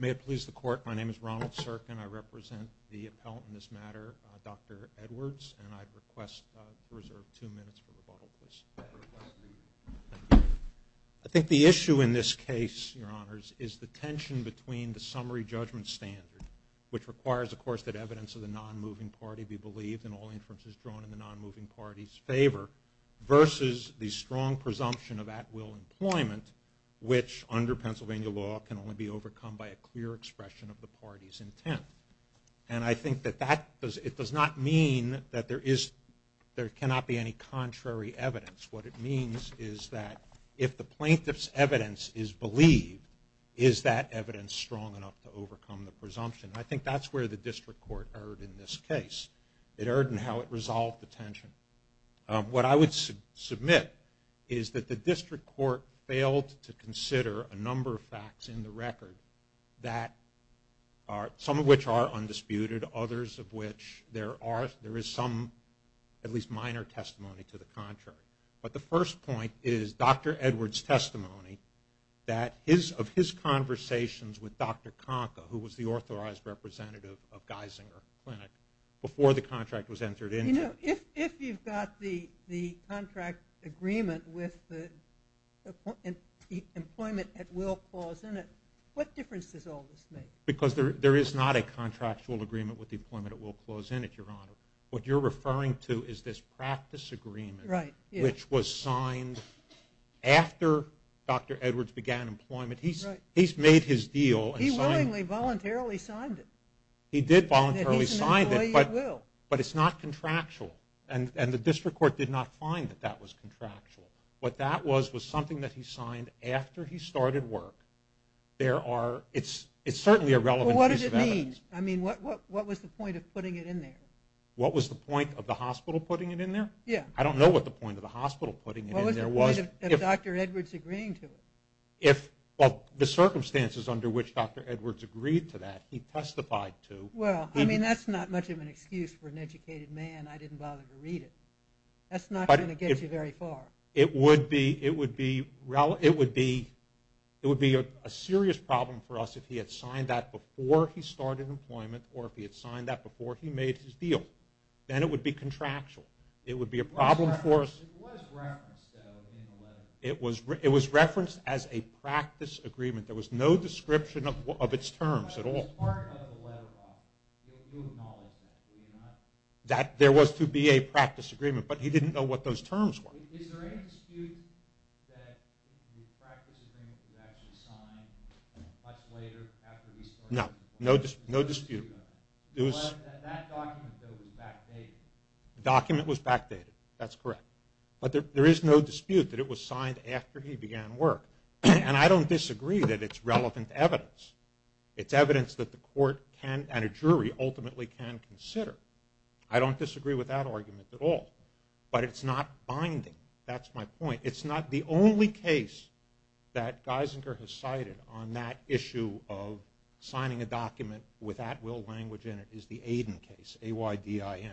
May it please the court, my name is Ronald Cirkin, I represent the appellant in this matter, Dr. Edwards, and I'd request to reserve two minutes for rebuttal, please. I think the issue in this case, your honors, is the tension between the summary judgment standard, which requires, of course, that evidence of the non-moving party be believed in all inferences drawn in the non-moving party's favor, versus the strong presumption of at-will employment, which under Pennsylvania law can only be overcome by a clear expression of the party's intent. And I think that it does not mean that there cannot be any contrary evidence. What it means is that if the plaintiff's evidence is believed, is that evidence strong enough to overcome the presumption? I think that's where the district court erred in this case. It erred in how it resolved the tension. What I would submit is that the district court failed to others of which there is some, at least minor, testimony to the contrary. But the first point is Dr. Edwards' testimony that of his conversations with Dr. Konka, who was the authorized representative of Geisinger Clinic, before the contract was entered into. You know, if you've got the contract agreement with the employment at-will clause in it, what difference does all this make? Because there is not a contractual agreement with the employment at-will clause in it, Your Honor. What you're referring to is this practice agreement, which was signed after Dr. Edwards began employment. He's made his deal and signed it. He willingly, voluntarily signed it. He did voluntarily sign it, but it's not contractual. And the district court did not find that that was contractual. What that was was something that he signed after he started work. There are relevant pieces of evidence. Well, what does it mean? I mean, what was the point of putting it in there? What was the point of the hospital putting it in there? Yeah. I don't know what the point of the hospital putting it in there was. What was the point of Dr. Edwards agreeing to it? The circumstances under which Dr. Edwards agreed to that, he testified to. Well, I mean, that's not much of an excuse for an educated man. I didn't bother to read it. That's not going to get you very far. It would be a serious problem for us if he had signed that before he started employment or if he had signed that before he made his deal. Then it would be contractual. It would be a problem for us. It was referenced, though, in the letter. It was referenced as a practice agreement. There was no description of its terms at all. But it was part of the letter, Rob. You acknowledge that, do you not? There was to be a practice agreement, but he didn't know what those terms were. Is there any dispute that the practice agreement was actually signed much later after he started employment? No. No dispute. That document, though, was backdated. The document was backdated. That's correct. But there is no dispute that it was signed after he began work. And I don't disagree that it's relevant evidence. It's evidence that the court and a jury ultimately can consider. I don't disagree with that argument at all. But it's not binding. That's my point. It's not the only case that Geisinger has cited on that issue of signing a document with at-will language in it is the Aiden case, A-Y-D-I-N.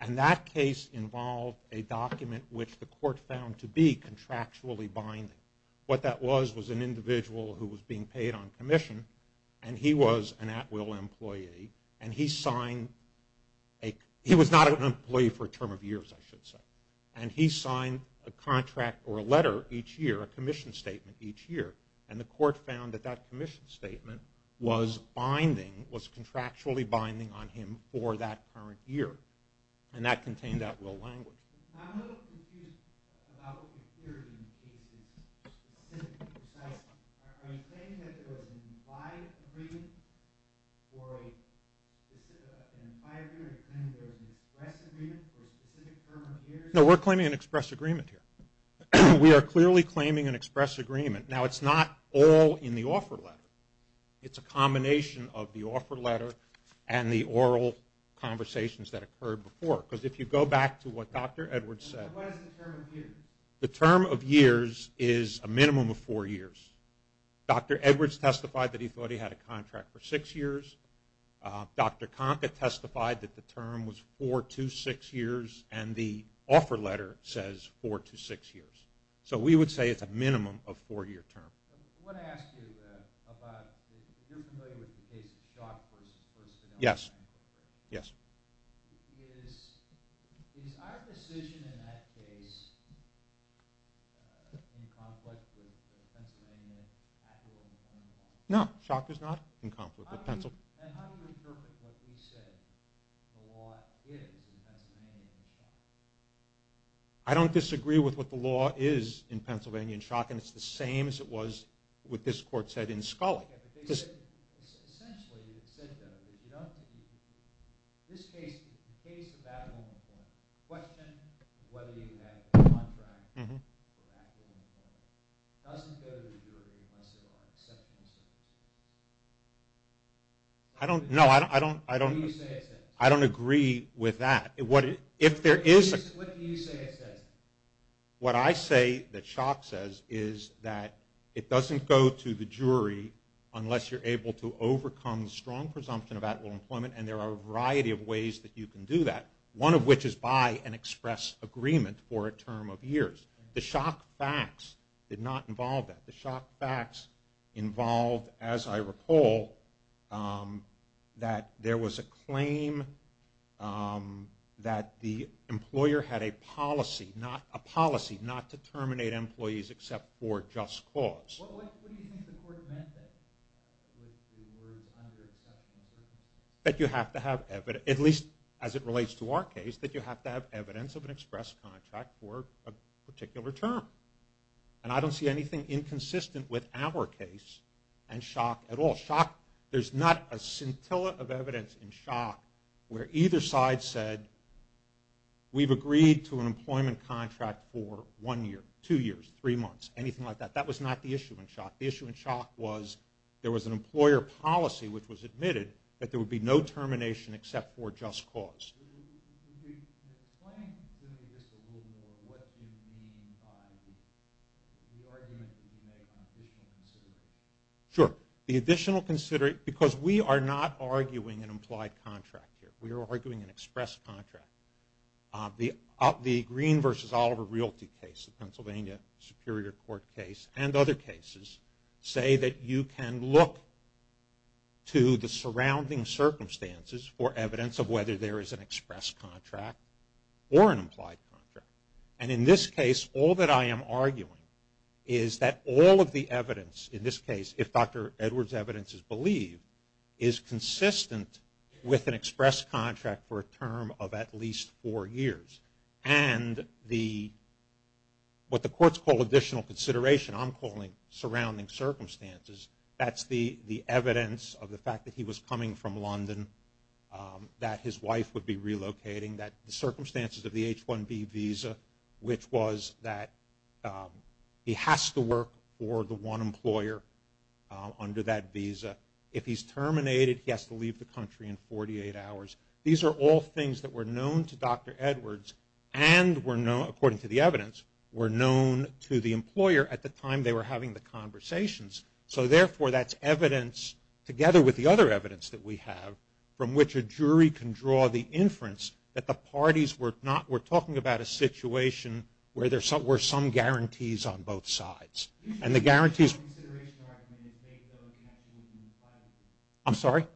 And that case involved a document which the court found to be contractually binding. What that was was an individual who was being paid on commission and he was an at-will employee and he signed a, he was not an employee for a term of years, I should say, and he signed a contract or a letter each year, a commission statement each year. And the court found that that commission statement was binding, was contractually binding on him for that current year. And that contained at-will language. I'm a little confused about your theory in the case. Are you claiming that there was an implied agreement for a specific, an implied agreement or are you claiming there was an express agreement for a specific term of years? No, we're claiming an express agreement here. We are clearly claiming an express agreement. Now, it's not all in the offer letter. It's a combination of the offer letter and the offer letter, as Dr. Edwards said. And what is the term of years? The term of years is a minimum of four years. Dr. Edwards testified that he thought he had a contract for six years. Dr. Conkett testified that the term was four to six years and the offer letter says four to six years. So we would say it's a minimum of four-year term. I want to ask you about, if you're familiar with the case of Schott v. Forstadell Bank Yes. Is our decision in that case in conflict with Pennsylvania at-will? No, Schott is not in conflict with Pennsylvania. And how do you interpret what we said the law is in Pennsylvania and Schott? I don't disagree with what the law is in Pennsylvania and Schott and it's the same as it was what this court said in Scully. Essentially, it said, though, that you don't, in this case, the case about unemployment, the question of whether you have a contract for active unemployment doesn't go to the jury unless there are exceptional circumstances. I don't, no, I don't agree with that. What do you say it says? What I say that Schott says is that it doesn't go to the jury unless you're able to overcome strong presumption of at-will employment and there are a variety of ways that you can do that, one of which is by an express agreement for a term of years. The Schott facts did not involve that. The Schott facts involved, as I recall, that there was a claim that the employer had a policy, a policy not to terminate employees except for just cause. What do you think the court meant with the words under exceptional circumstances? That you have to have evidence, at least as it relates to our case, that you have to have evidence of an express contract for a particular term. And I don't see anything inconsistent with our case and Schott at all. Schott, there's not a scintilla of evidence in Schott where either side said we've agreed to an employment contract for one year, two years, three months, anything like that. That was not the issue in Schott. The issue in Schott was there was an employer policy which was admitted that there would be no termination except for just cause. Could you explain to me just a little more what you mean by the argument that you make on additional consideration? Sure. The additional consideration, because we are not arguing an implied contract here. We are arguing an express contract. The Green versus Oliver Realty case, the Pennsylvania Superior Court case, and other cases say that you can look to the surrounding circumstances for evidence of whether there is an express contract or an implied contract. And in this case, all that I am arguing is that all of the evidence in this case, if Dr. Edwards' evidence is believed, is consistent with an express contract for a term of at least four years. And what the courts call additional consideration, I'm calling surrounding circumstances, that's the evidence of the fact that he was coming from London, that his wife would be relocating, the circumstances of the H-1B visa, which was that he has to work for the one employer under that visa. If he's terminated, he has to leave the country in 48 hours. These are all things that were known to Dr. Edwards and, according to the evidence, were known to the employer at the time they were having the conversations. So, therefore, that's evidence, together with the other evidence that we have, from which a jury can draw the inference that the parties were talking about a situation where there were some guarantees on both sides. And the guarantees... I'm sorry?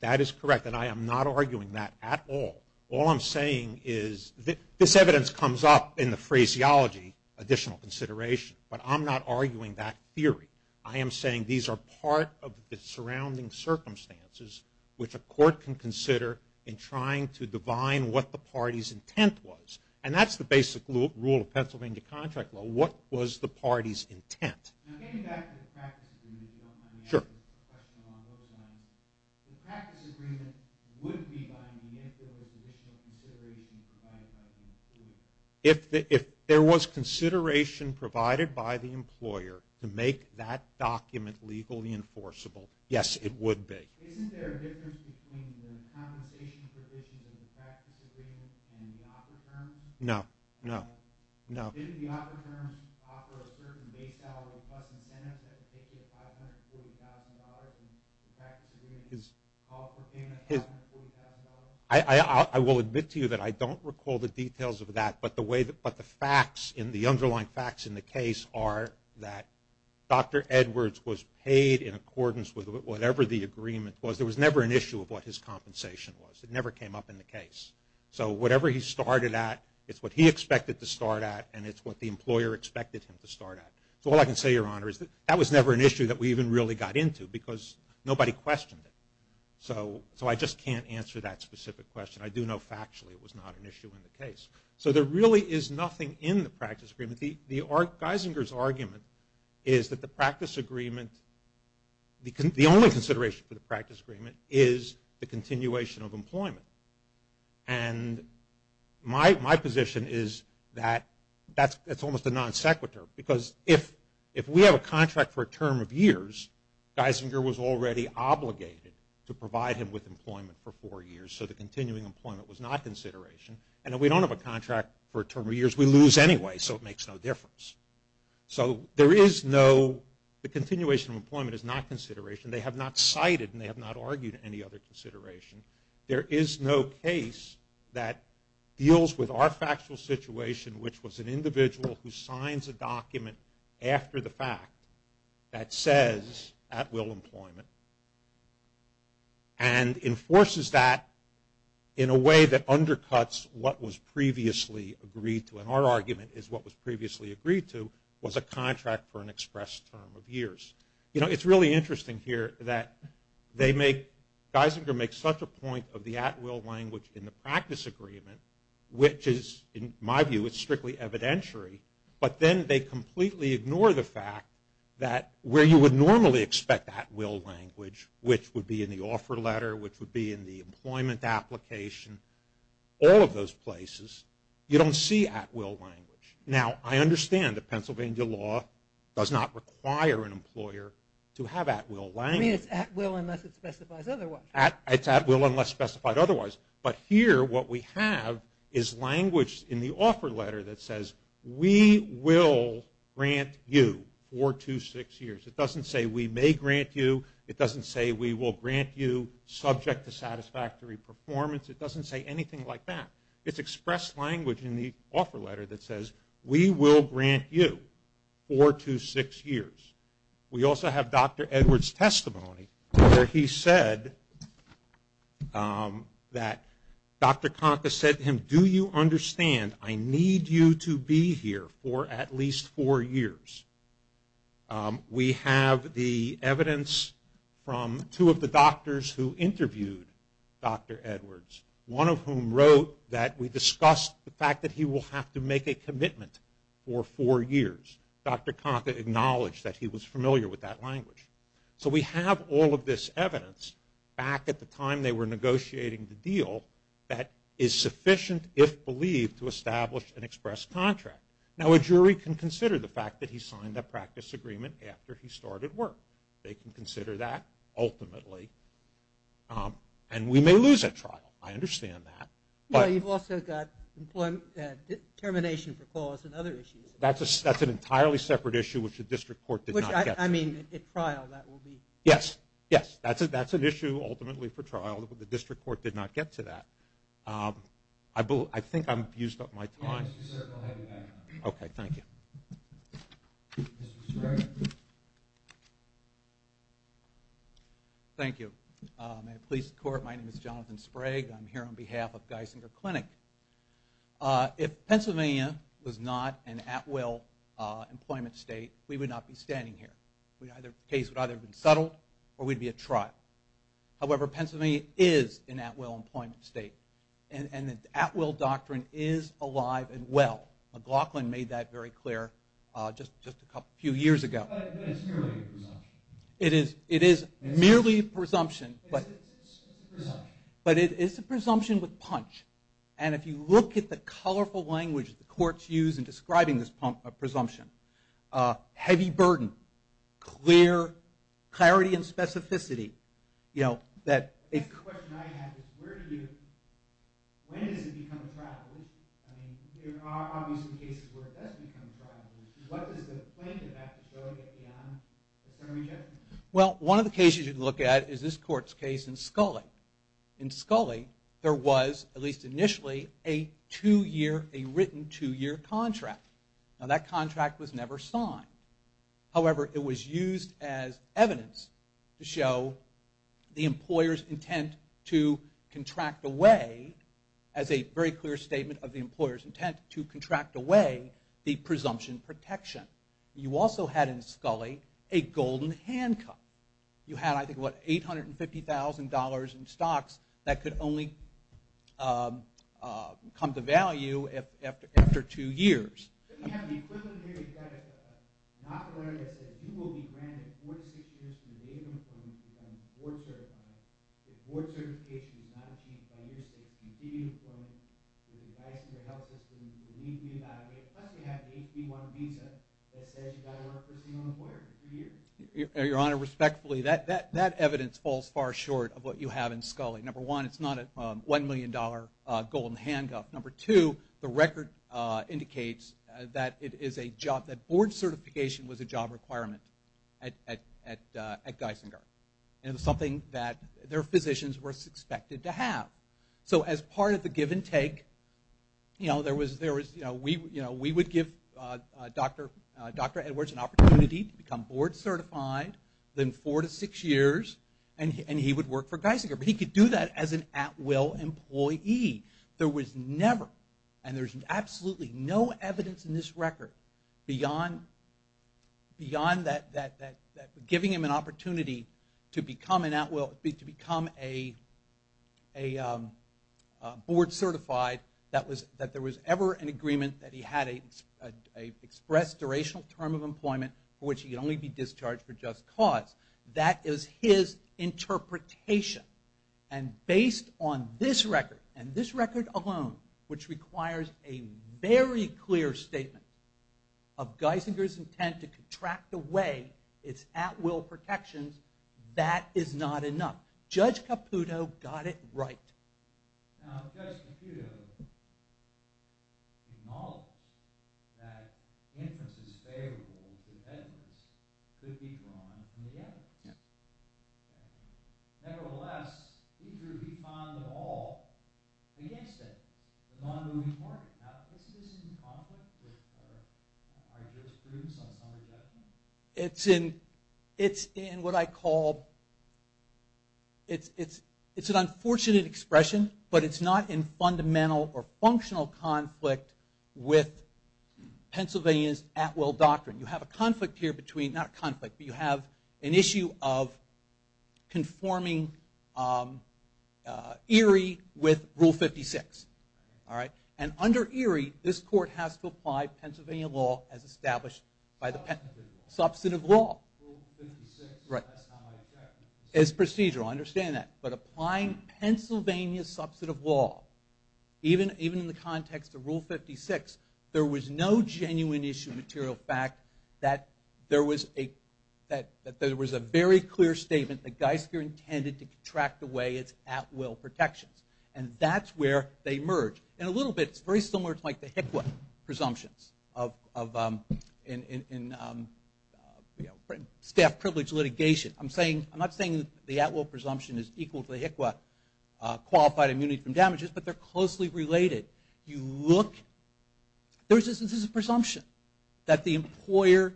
That is correct, and I am not arguing that at all. All I'm saying is this evidence comes up in the phraseology, additional consideration, but I'm not arguing that theory. I am saying these are part of the surrounding circumstances which a court can consider in trying to divine what the party's intent was. And that's the basic rule of Pennsylvania contract law. What was the party's intent? If there was consideration provided by the employer to make that document legally enforceable, yes, it would be. No, no, no. I will admit to you that I don't recall the details of that, but the underlying facts in the case are that Dr. Edwards was paid in accordance with whatever the agreement was. There was never an issue of what his compensation was. It never came up in the case. So whatever he started at, it's what he expected to start at, and it's what the employer expected him to start at. So all I can say, Your Honor, is that that was never an issue that we even really got into because nobody questioned it. So I just can't answer that specific question. I do know factually it was not an issue in the case. So there really is nothing in the practice agreement. Geisinger's argument is that the practice agreement, the only consideration for the practice agreement is the continuation of employment. And my position is that that's almost a non sequitur because if we have a contract for a term of years, Geisinger was already obligated to provide him with employment for four years, so the continuing employment was not consideration. And if we don't have a contract for a term of years, we lose anyway, so it makes no difference. So there is no, the continuation of employment is not consideration. They have not cited and they have not argued any other consideration. There is no case that deals with our factual situation, which was an individual who signs a document after the fact that says, at will employment and enforces that in a way that undercuts what was previously agreed to. And our argument is what was previously agreed to was a contract for an express term of years. You know, it's really interesting here that they make, Geisinger makes such a point of the at will language in the practice agreement, which is in my view is strictly evidentiary, but then they completely ignore the fact that where you would normally expect at will language, which would be in the offer letter, which would be in the employment application, all of those places, you don't see at will language. Now, I understand that Pennsylvania law does not require an employer to have at will language. I mean, it's at will unless it specifies otherwise. It's at will unless specified otherwise. But here what we have is language in the offer letter that says, we will grant you four to six years. It doesn't say we may grant you. It doesn't say we will grant you subject to satisfactory performance. It doesn't say anything like that. It's expressed language in the offer letter that says, we will grant you four to six years. We also have Dr. Edwards' testimony where he said that Dr. Kanka said to him, do you understand I need you to be here for at least four years. We have the evidence from two of the doctors who interviewed Dr. Edwards, one of whom wrote that we discussed the fact that he will have to make a commitment for four years. Dr. Kanka acknowledged that he was familiar with that language. So we have all of this evidence back at the time they were negotiating the deal that is sufficient, if believed, to establish an express contract. Now, a jury can consider the fact that he signed that practice agreement after he started work. They can consider that ultimately. And we may lose that trial. I understand that. But you've also got determination for cause and other issues. That's an entirely separate issue which the district court did not get to. Which, I mean, at trial that will be. Yes, yes. That's an issue ultimately for trial. The district court did not get to that. I think I've used up my time. Yes, you certainly have. Okay, thank you. Mr. Sprague. Thank you. Police court, my name is Jonathan Sprague. I'm here on behalf of Geisinger Clinic. If Pennsylvania was not an at-will employment state, we would not be standing here. The case would either have been settled or we'd be at trial. However, Pennsylvania is an at-will employment state. And the at-will doctrine is alive and well. McLaughlin made that very clear just a few years ago. But it's merely a presumption. It is merely a presumption. It's a presumption. But it is a presumption with punch. And if you look at the colorful language the courts use in describing this presumption, heavy burden, clear clarity and specificity, you know, that a The question I have is where do you, when does it become a trial deluge? I mean, there are obviously cases where it does become a trial deluge. What does the plaintiff have to show to get the honor of summary judgment? Well, one of the cases you should look at is this court's case in Scully. In Scully, there was, at least initially, a two-year, a written two-year contract. Now, that contract was never signed. However, it was used as evidence to show the employer's intent to contract away, as a very clear statement of the employer's intent, to contract away the presumption protection. You also had in Scully a golden handcuff. You had, I think, what, $850,000 in stocks that could only come to value after two years. You have the equivalent here. You've got a monopoly that says you will be granted four to six years from the date of employment to become board certified. If board certification is not achieved by year six, you continue employment. You're advising your health system. You will need to be evaluated. Plus, you have the HB-1 visa that says you've got to work for a single employer for three years. Your Honor, respectfully, that evidence falls far short of what you have in Scully. Number one, it's not a $1 million golden handcuff. Number two, the record indicates that board certification was a job requirement at Geisinger. It was something that their physicians were expected to have. So as part of the give and take, you know, we would give Dr. Edwards an opportunity to become board certified, then four to six years, and he would work for Geisinger. But he could do that as an at-will employee. There was never, and there's absolutely no evidence in this record, beyond giving him an opportunity to become an at-will, to become a board certified, that there was ever an agreement that he had an expressed durational term of employment for which he could only be discharged for just cause. That is his interpretation. And based on this record, and this record alone, which requires a very clear statement of Geisinger's intent to contract away its at-will protections, that is not enough. Judge Caputo got it right. Now Judge Caputo acknowledged that inferences favorable to Edwards could be drawn from the evidence. Nevertheless, he found them all against it, the non-moving market. Now isn't this in conflict with our jurisprudence on some objections? It's in what I call, it's an unfortunate expression, but it's not in fundamental or functional conflict with Pennsylvania's at-will doctrine. You have an issue of conforming Erie with Rule 56. And under Erie, this court has to apply Pennsylvania law as established by the- Substantive law. Substantive law. Rule 56. Right. That's how I checked. It's procedural, I understand that. But applying Pennsylvania's substantive law, even in the context of Rule 56, there was no genuine issue material fact that there was a very clear statement that Geisinger intended to contract away its at-will protections. And that's where they merge. In a little bit, it's very similar to the HICWA presumptions in staff privilege litigation. I'm not saying the at-will presumption is equal to the HICWA qualified immunity from damages, but they're closely related. You look, there's a presumption that the employer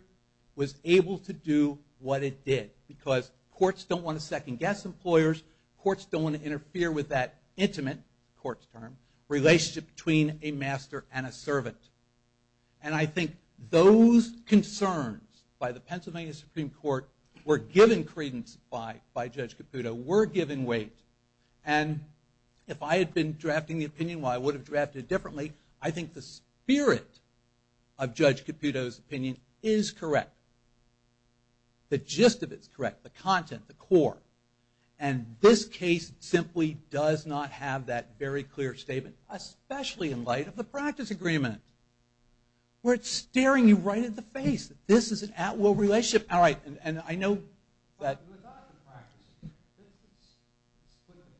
was able to do what it did because courts don't want to second-guess employers. Courts don't want to interfere with that intimate, court's term, relationship between a master and a servant. And I think those concerns by the Pennsylvania Supreme Court were given credence by Judge Caputo, were given weight. And if I had been drafting the opinion while I would have drafted it differently, I think the spirit of Judge Caputo's opinion is correct. And this case simply does not have that very clear statement, especially in light of the practice agreement where it's staring you right in the face. This is an at-will relationship. All right, and I know that. Let's put the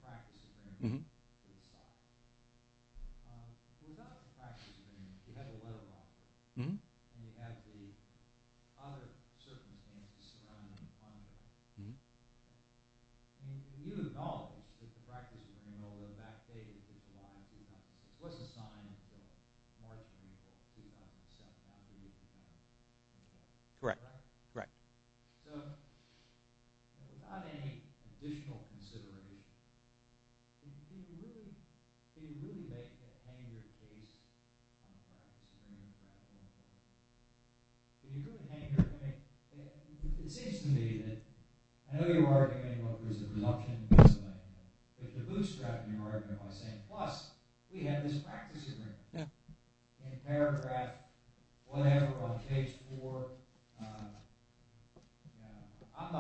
practice agreement to the side. Without the practice agreement, you have a letter of offer, and you have the other circumstances surrounding the funder. You acknowledge that the practice agreement, although backdated to July 2006, wasn't signed until March 24, 2007. Correct. Correct. So without any additional consideration, did you really make a hanger case on the practice agreement? Did you do a hanger? It seems to me that I know you're arguing what was the presumption, but the bootstrap in your argument was saying, plus, we have this practice agreement. In paragraph whatever on page four, I'm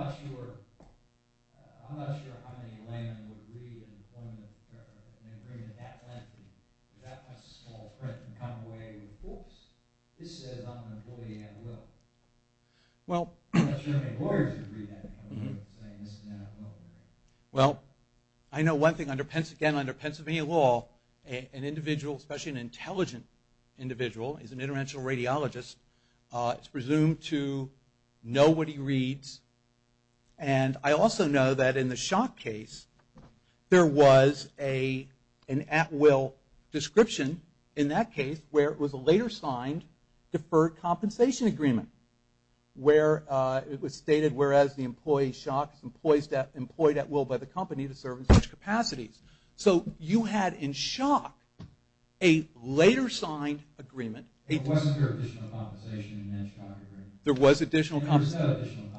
not sure how many laymen would read an agreement that lengthy. That's a small print and come away with, whoops, this says I'm an employee at will. I'm not sure how many lawyers would read that and come away with saying this is an at-will. Well, I know one thing, again, under Pennsylvania law, an individual, especially an intelligent individual, is an international radiologist. It's presumed to know what he reads. And I also know that in the shock case, there was an at-will description in that case where it was a later signed deferred compensation agreement where it was stated, whereas the employee is shocked, the employee is employed at will by the company to serve in such capacities. So you had in shock a later signed agreement. There was additional compensation.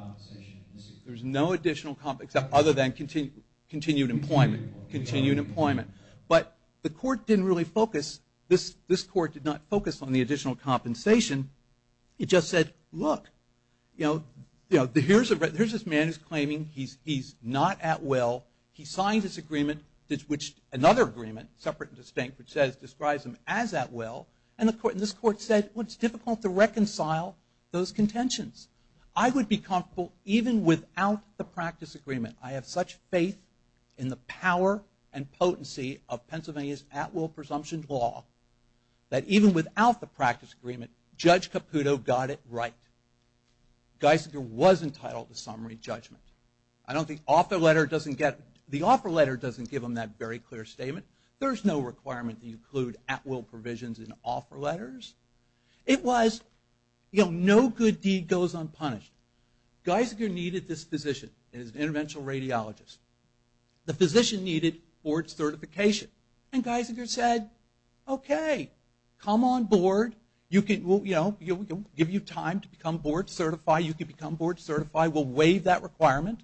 There was no additional compensation other than continued employment. But the court didn't really focus. This court did not focus on the additional compensation. It just said, look, here's this man who's claiming he's not at will. He signed this agreement, another agreement, separate and distinct, which describes him as at will. And this court said, well, it's difficult to reconcile those contentions. I would be comfortable even without the practice agreement. I have such faith in the power and potency of Pennsylvania's at-will presumption law that even without the practice agreement, Judge Caputo got it right. Geisinger was entitled to summary judgment. I don't think the offer letter doesn't give him that very clear statement. There's no requirement to include at-will provisions in offer letters. It was no good deed goes unpunished. Geisinger needed this physician. It was an interventional radiologist. The physician needed board certification. And Geisinger said, okay, come on board. We'll give you time to become board certified. You can become board certified. We'll waive that requirement.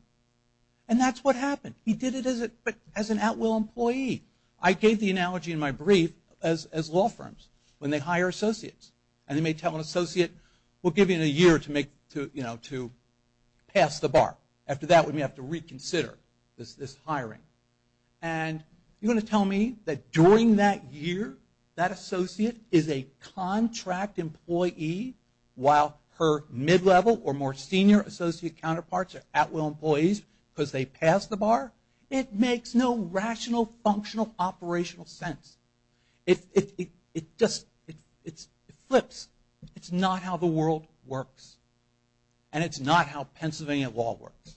And that's what happened. He did it as an at-will employee. I gave the analogy in my brief as law firms when they hire associates. And they may tell an associate, we'll give you a year to pass the bar. After that, we may have to reconsider this hiring. And you're going to tell me that during that year that associate is a contract employee while her mid-level or more senior associate counterparts are at-will employees because they passed the bar? It makes no rational, functional, operational sense. It just flips. It's not how the world works. And it's not how Pennsylvania law works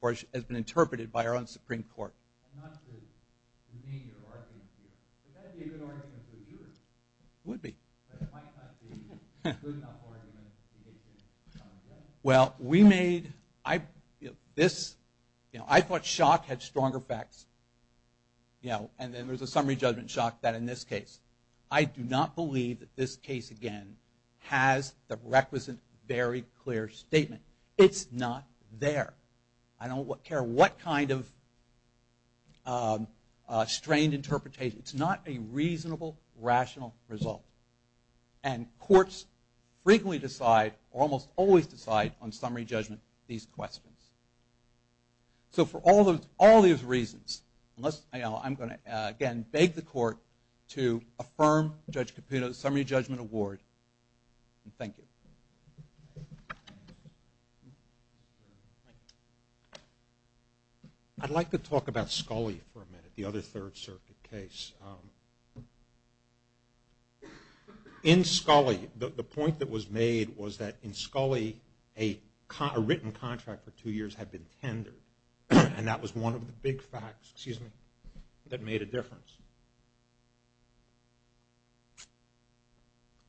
or has been interpreted by our own Supreme Court. Not to demean your arguments here. Would that be a good argument for a juror? It would be. But it might not be a good enough argument to get you to come again? Well, we made this. I thought shock had strong effects. And then there's a summary judgment shock that in this case. I do not believe that this case, again, has the requisite, very clear statement. It's not there. I don't care what kind of strained interpretation. It's not a reasonable, rational result. And courts frequently decide or almost always decide on summary judgment these questions. So for all those reasons, I'm going to, again, beg the court to affirm Judge Caputo's summary judgment award. Thank you. I'd like to talk about Scully for a minute, the other Third Circuit case. In Scully, the point that was made was that in Scully, a written contract for two years had been tendered. And that was one of the big facts, excuse me, that made a difference.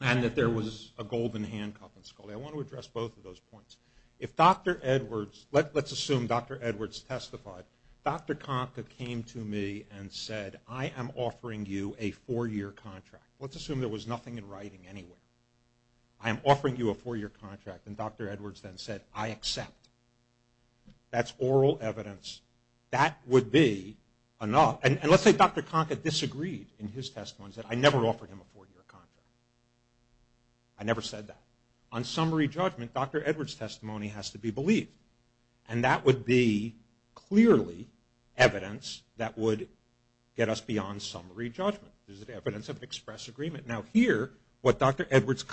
And that there was a golden handcuff in Scully. I want to address both of those points. If Dr. Edwards, let's assume Dr. Edwards testified. Dr. Konka came to me and said, I am offering you a four-year contract. Let's assume there was nothing in writing anywhere. I am offering you a four-year contract. And Dr. Edwards then said, I accept. That's oral evidence. That would be enough. And let's say Dr. Konka disagreed in his testimony and said, I never offered him a four-year contract. I never said that. On summary judgment, Dr. Edwards' testimony has to be believed. And that would be clearly evidence that would get us beyond summary judgment. This is evidence of an express agreement. Now here, what Dr. Edwards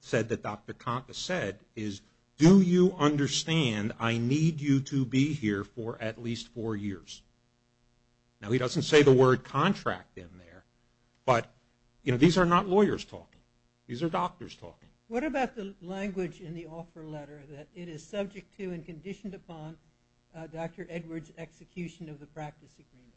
said that Dr. Konka said is, do you understand I need you to be here for at least four years? Now he doesn't say the word contract in there. But, you know, these are not lawyers talking. These are doctors talking. What about the language in the offer letter that it is subject to and conditioned upon Dr. Edwards' execution of the practice agreement?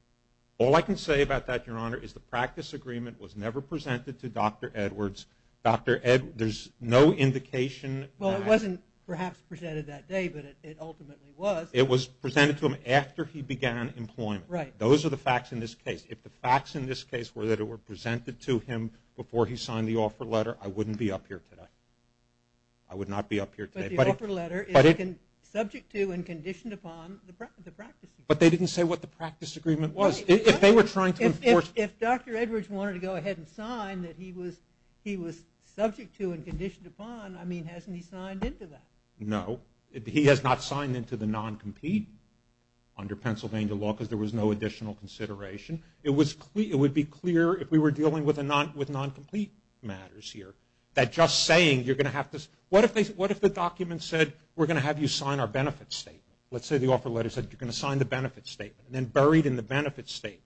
All I can say about that, Your Honor, is the practice agreement was never presented to Dr. Edwards. Dr. Edwards, there's no indication that. Well, it wasn't perhaps presented that day, but it ultimately was. It was presented to him after he began employment. Those are the facts in this case. If the facts in this case were that it were presented to him before he signed the offer letter, I wouldn't be up here today. I would not be up here today. But the offer letter is subject to and conditioned upon the practice agreement. But they didn't say what the practice agreement was. If they were trying to enforce it. If Dr. Edwards wanted to go ahead and sign that he was subject to and conditioned upon, I mean, hasn't he signed into that? No. He has not signed into the non-complete under Pennsylvania law because there was no additional consideration. It would be clear if we were dealing with non-complete matters here that just saying you're going to have to – what if the document said we're going to have you sign our benefits statement? Let's say the offer letter said you're going to sign the benefits statement and then buried in the benefits statement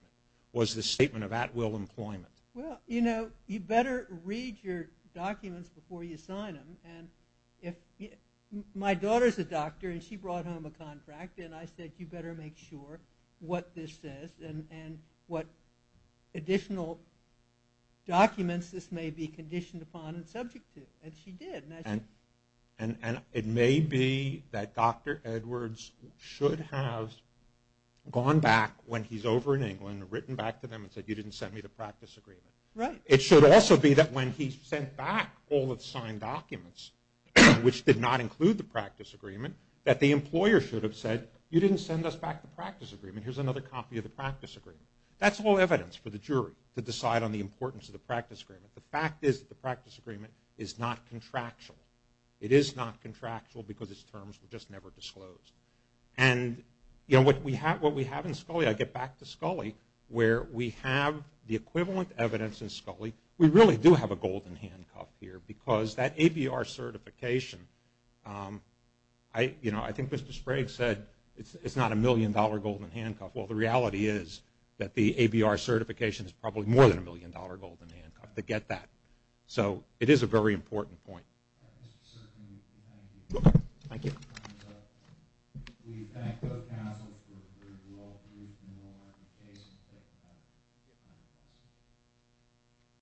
was the statement of at-will employment. Well, you know, you better read your documents before you sign them. My daughter is a doctor and she brought home a contract and I said you better make sure what this says and what additional documents this may be conditioned upon and subject to. And she did. And it may be that Dr. Edwards should have gone back when he's over in England and written back to them and said you didn't send me the practice agreement. Right. It should also be that when he sent back all the signed documents, which did not include the practice agreement, that the employer should have said you didn't send us back the practice agreement. Here's another copy of the practice agreement. That's all evidence for the jury to decide on the importance of the practice agreement. The fact is that the practice agreement is not contractual. It is not contractual because its terms were just never disclosed. And, you know, what we have in Scully – I get back to Scully where we have the equivalent evidence in Scully. We really do have a golden handcuff here because that ABR certification, you know, I think Mr. Sprague said it's not a million-dollar golden handcuff. Well, the reality is that the ABR certification is probably more than a million-dollar golden handcuff to get that. So it is a very important point. Thank you. Thank you.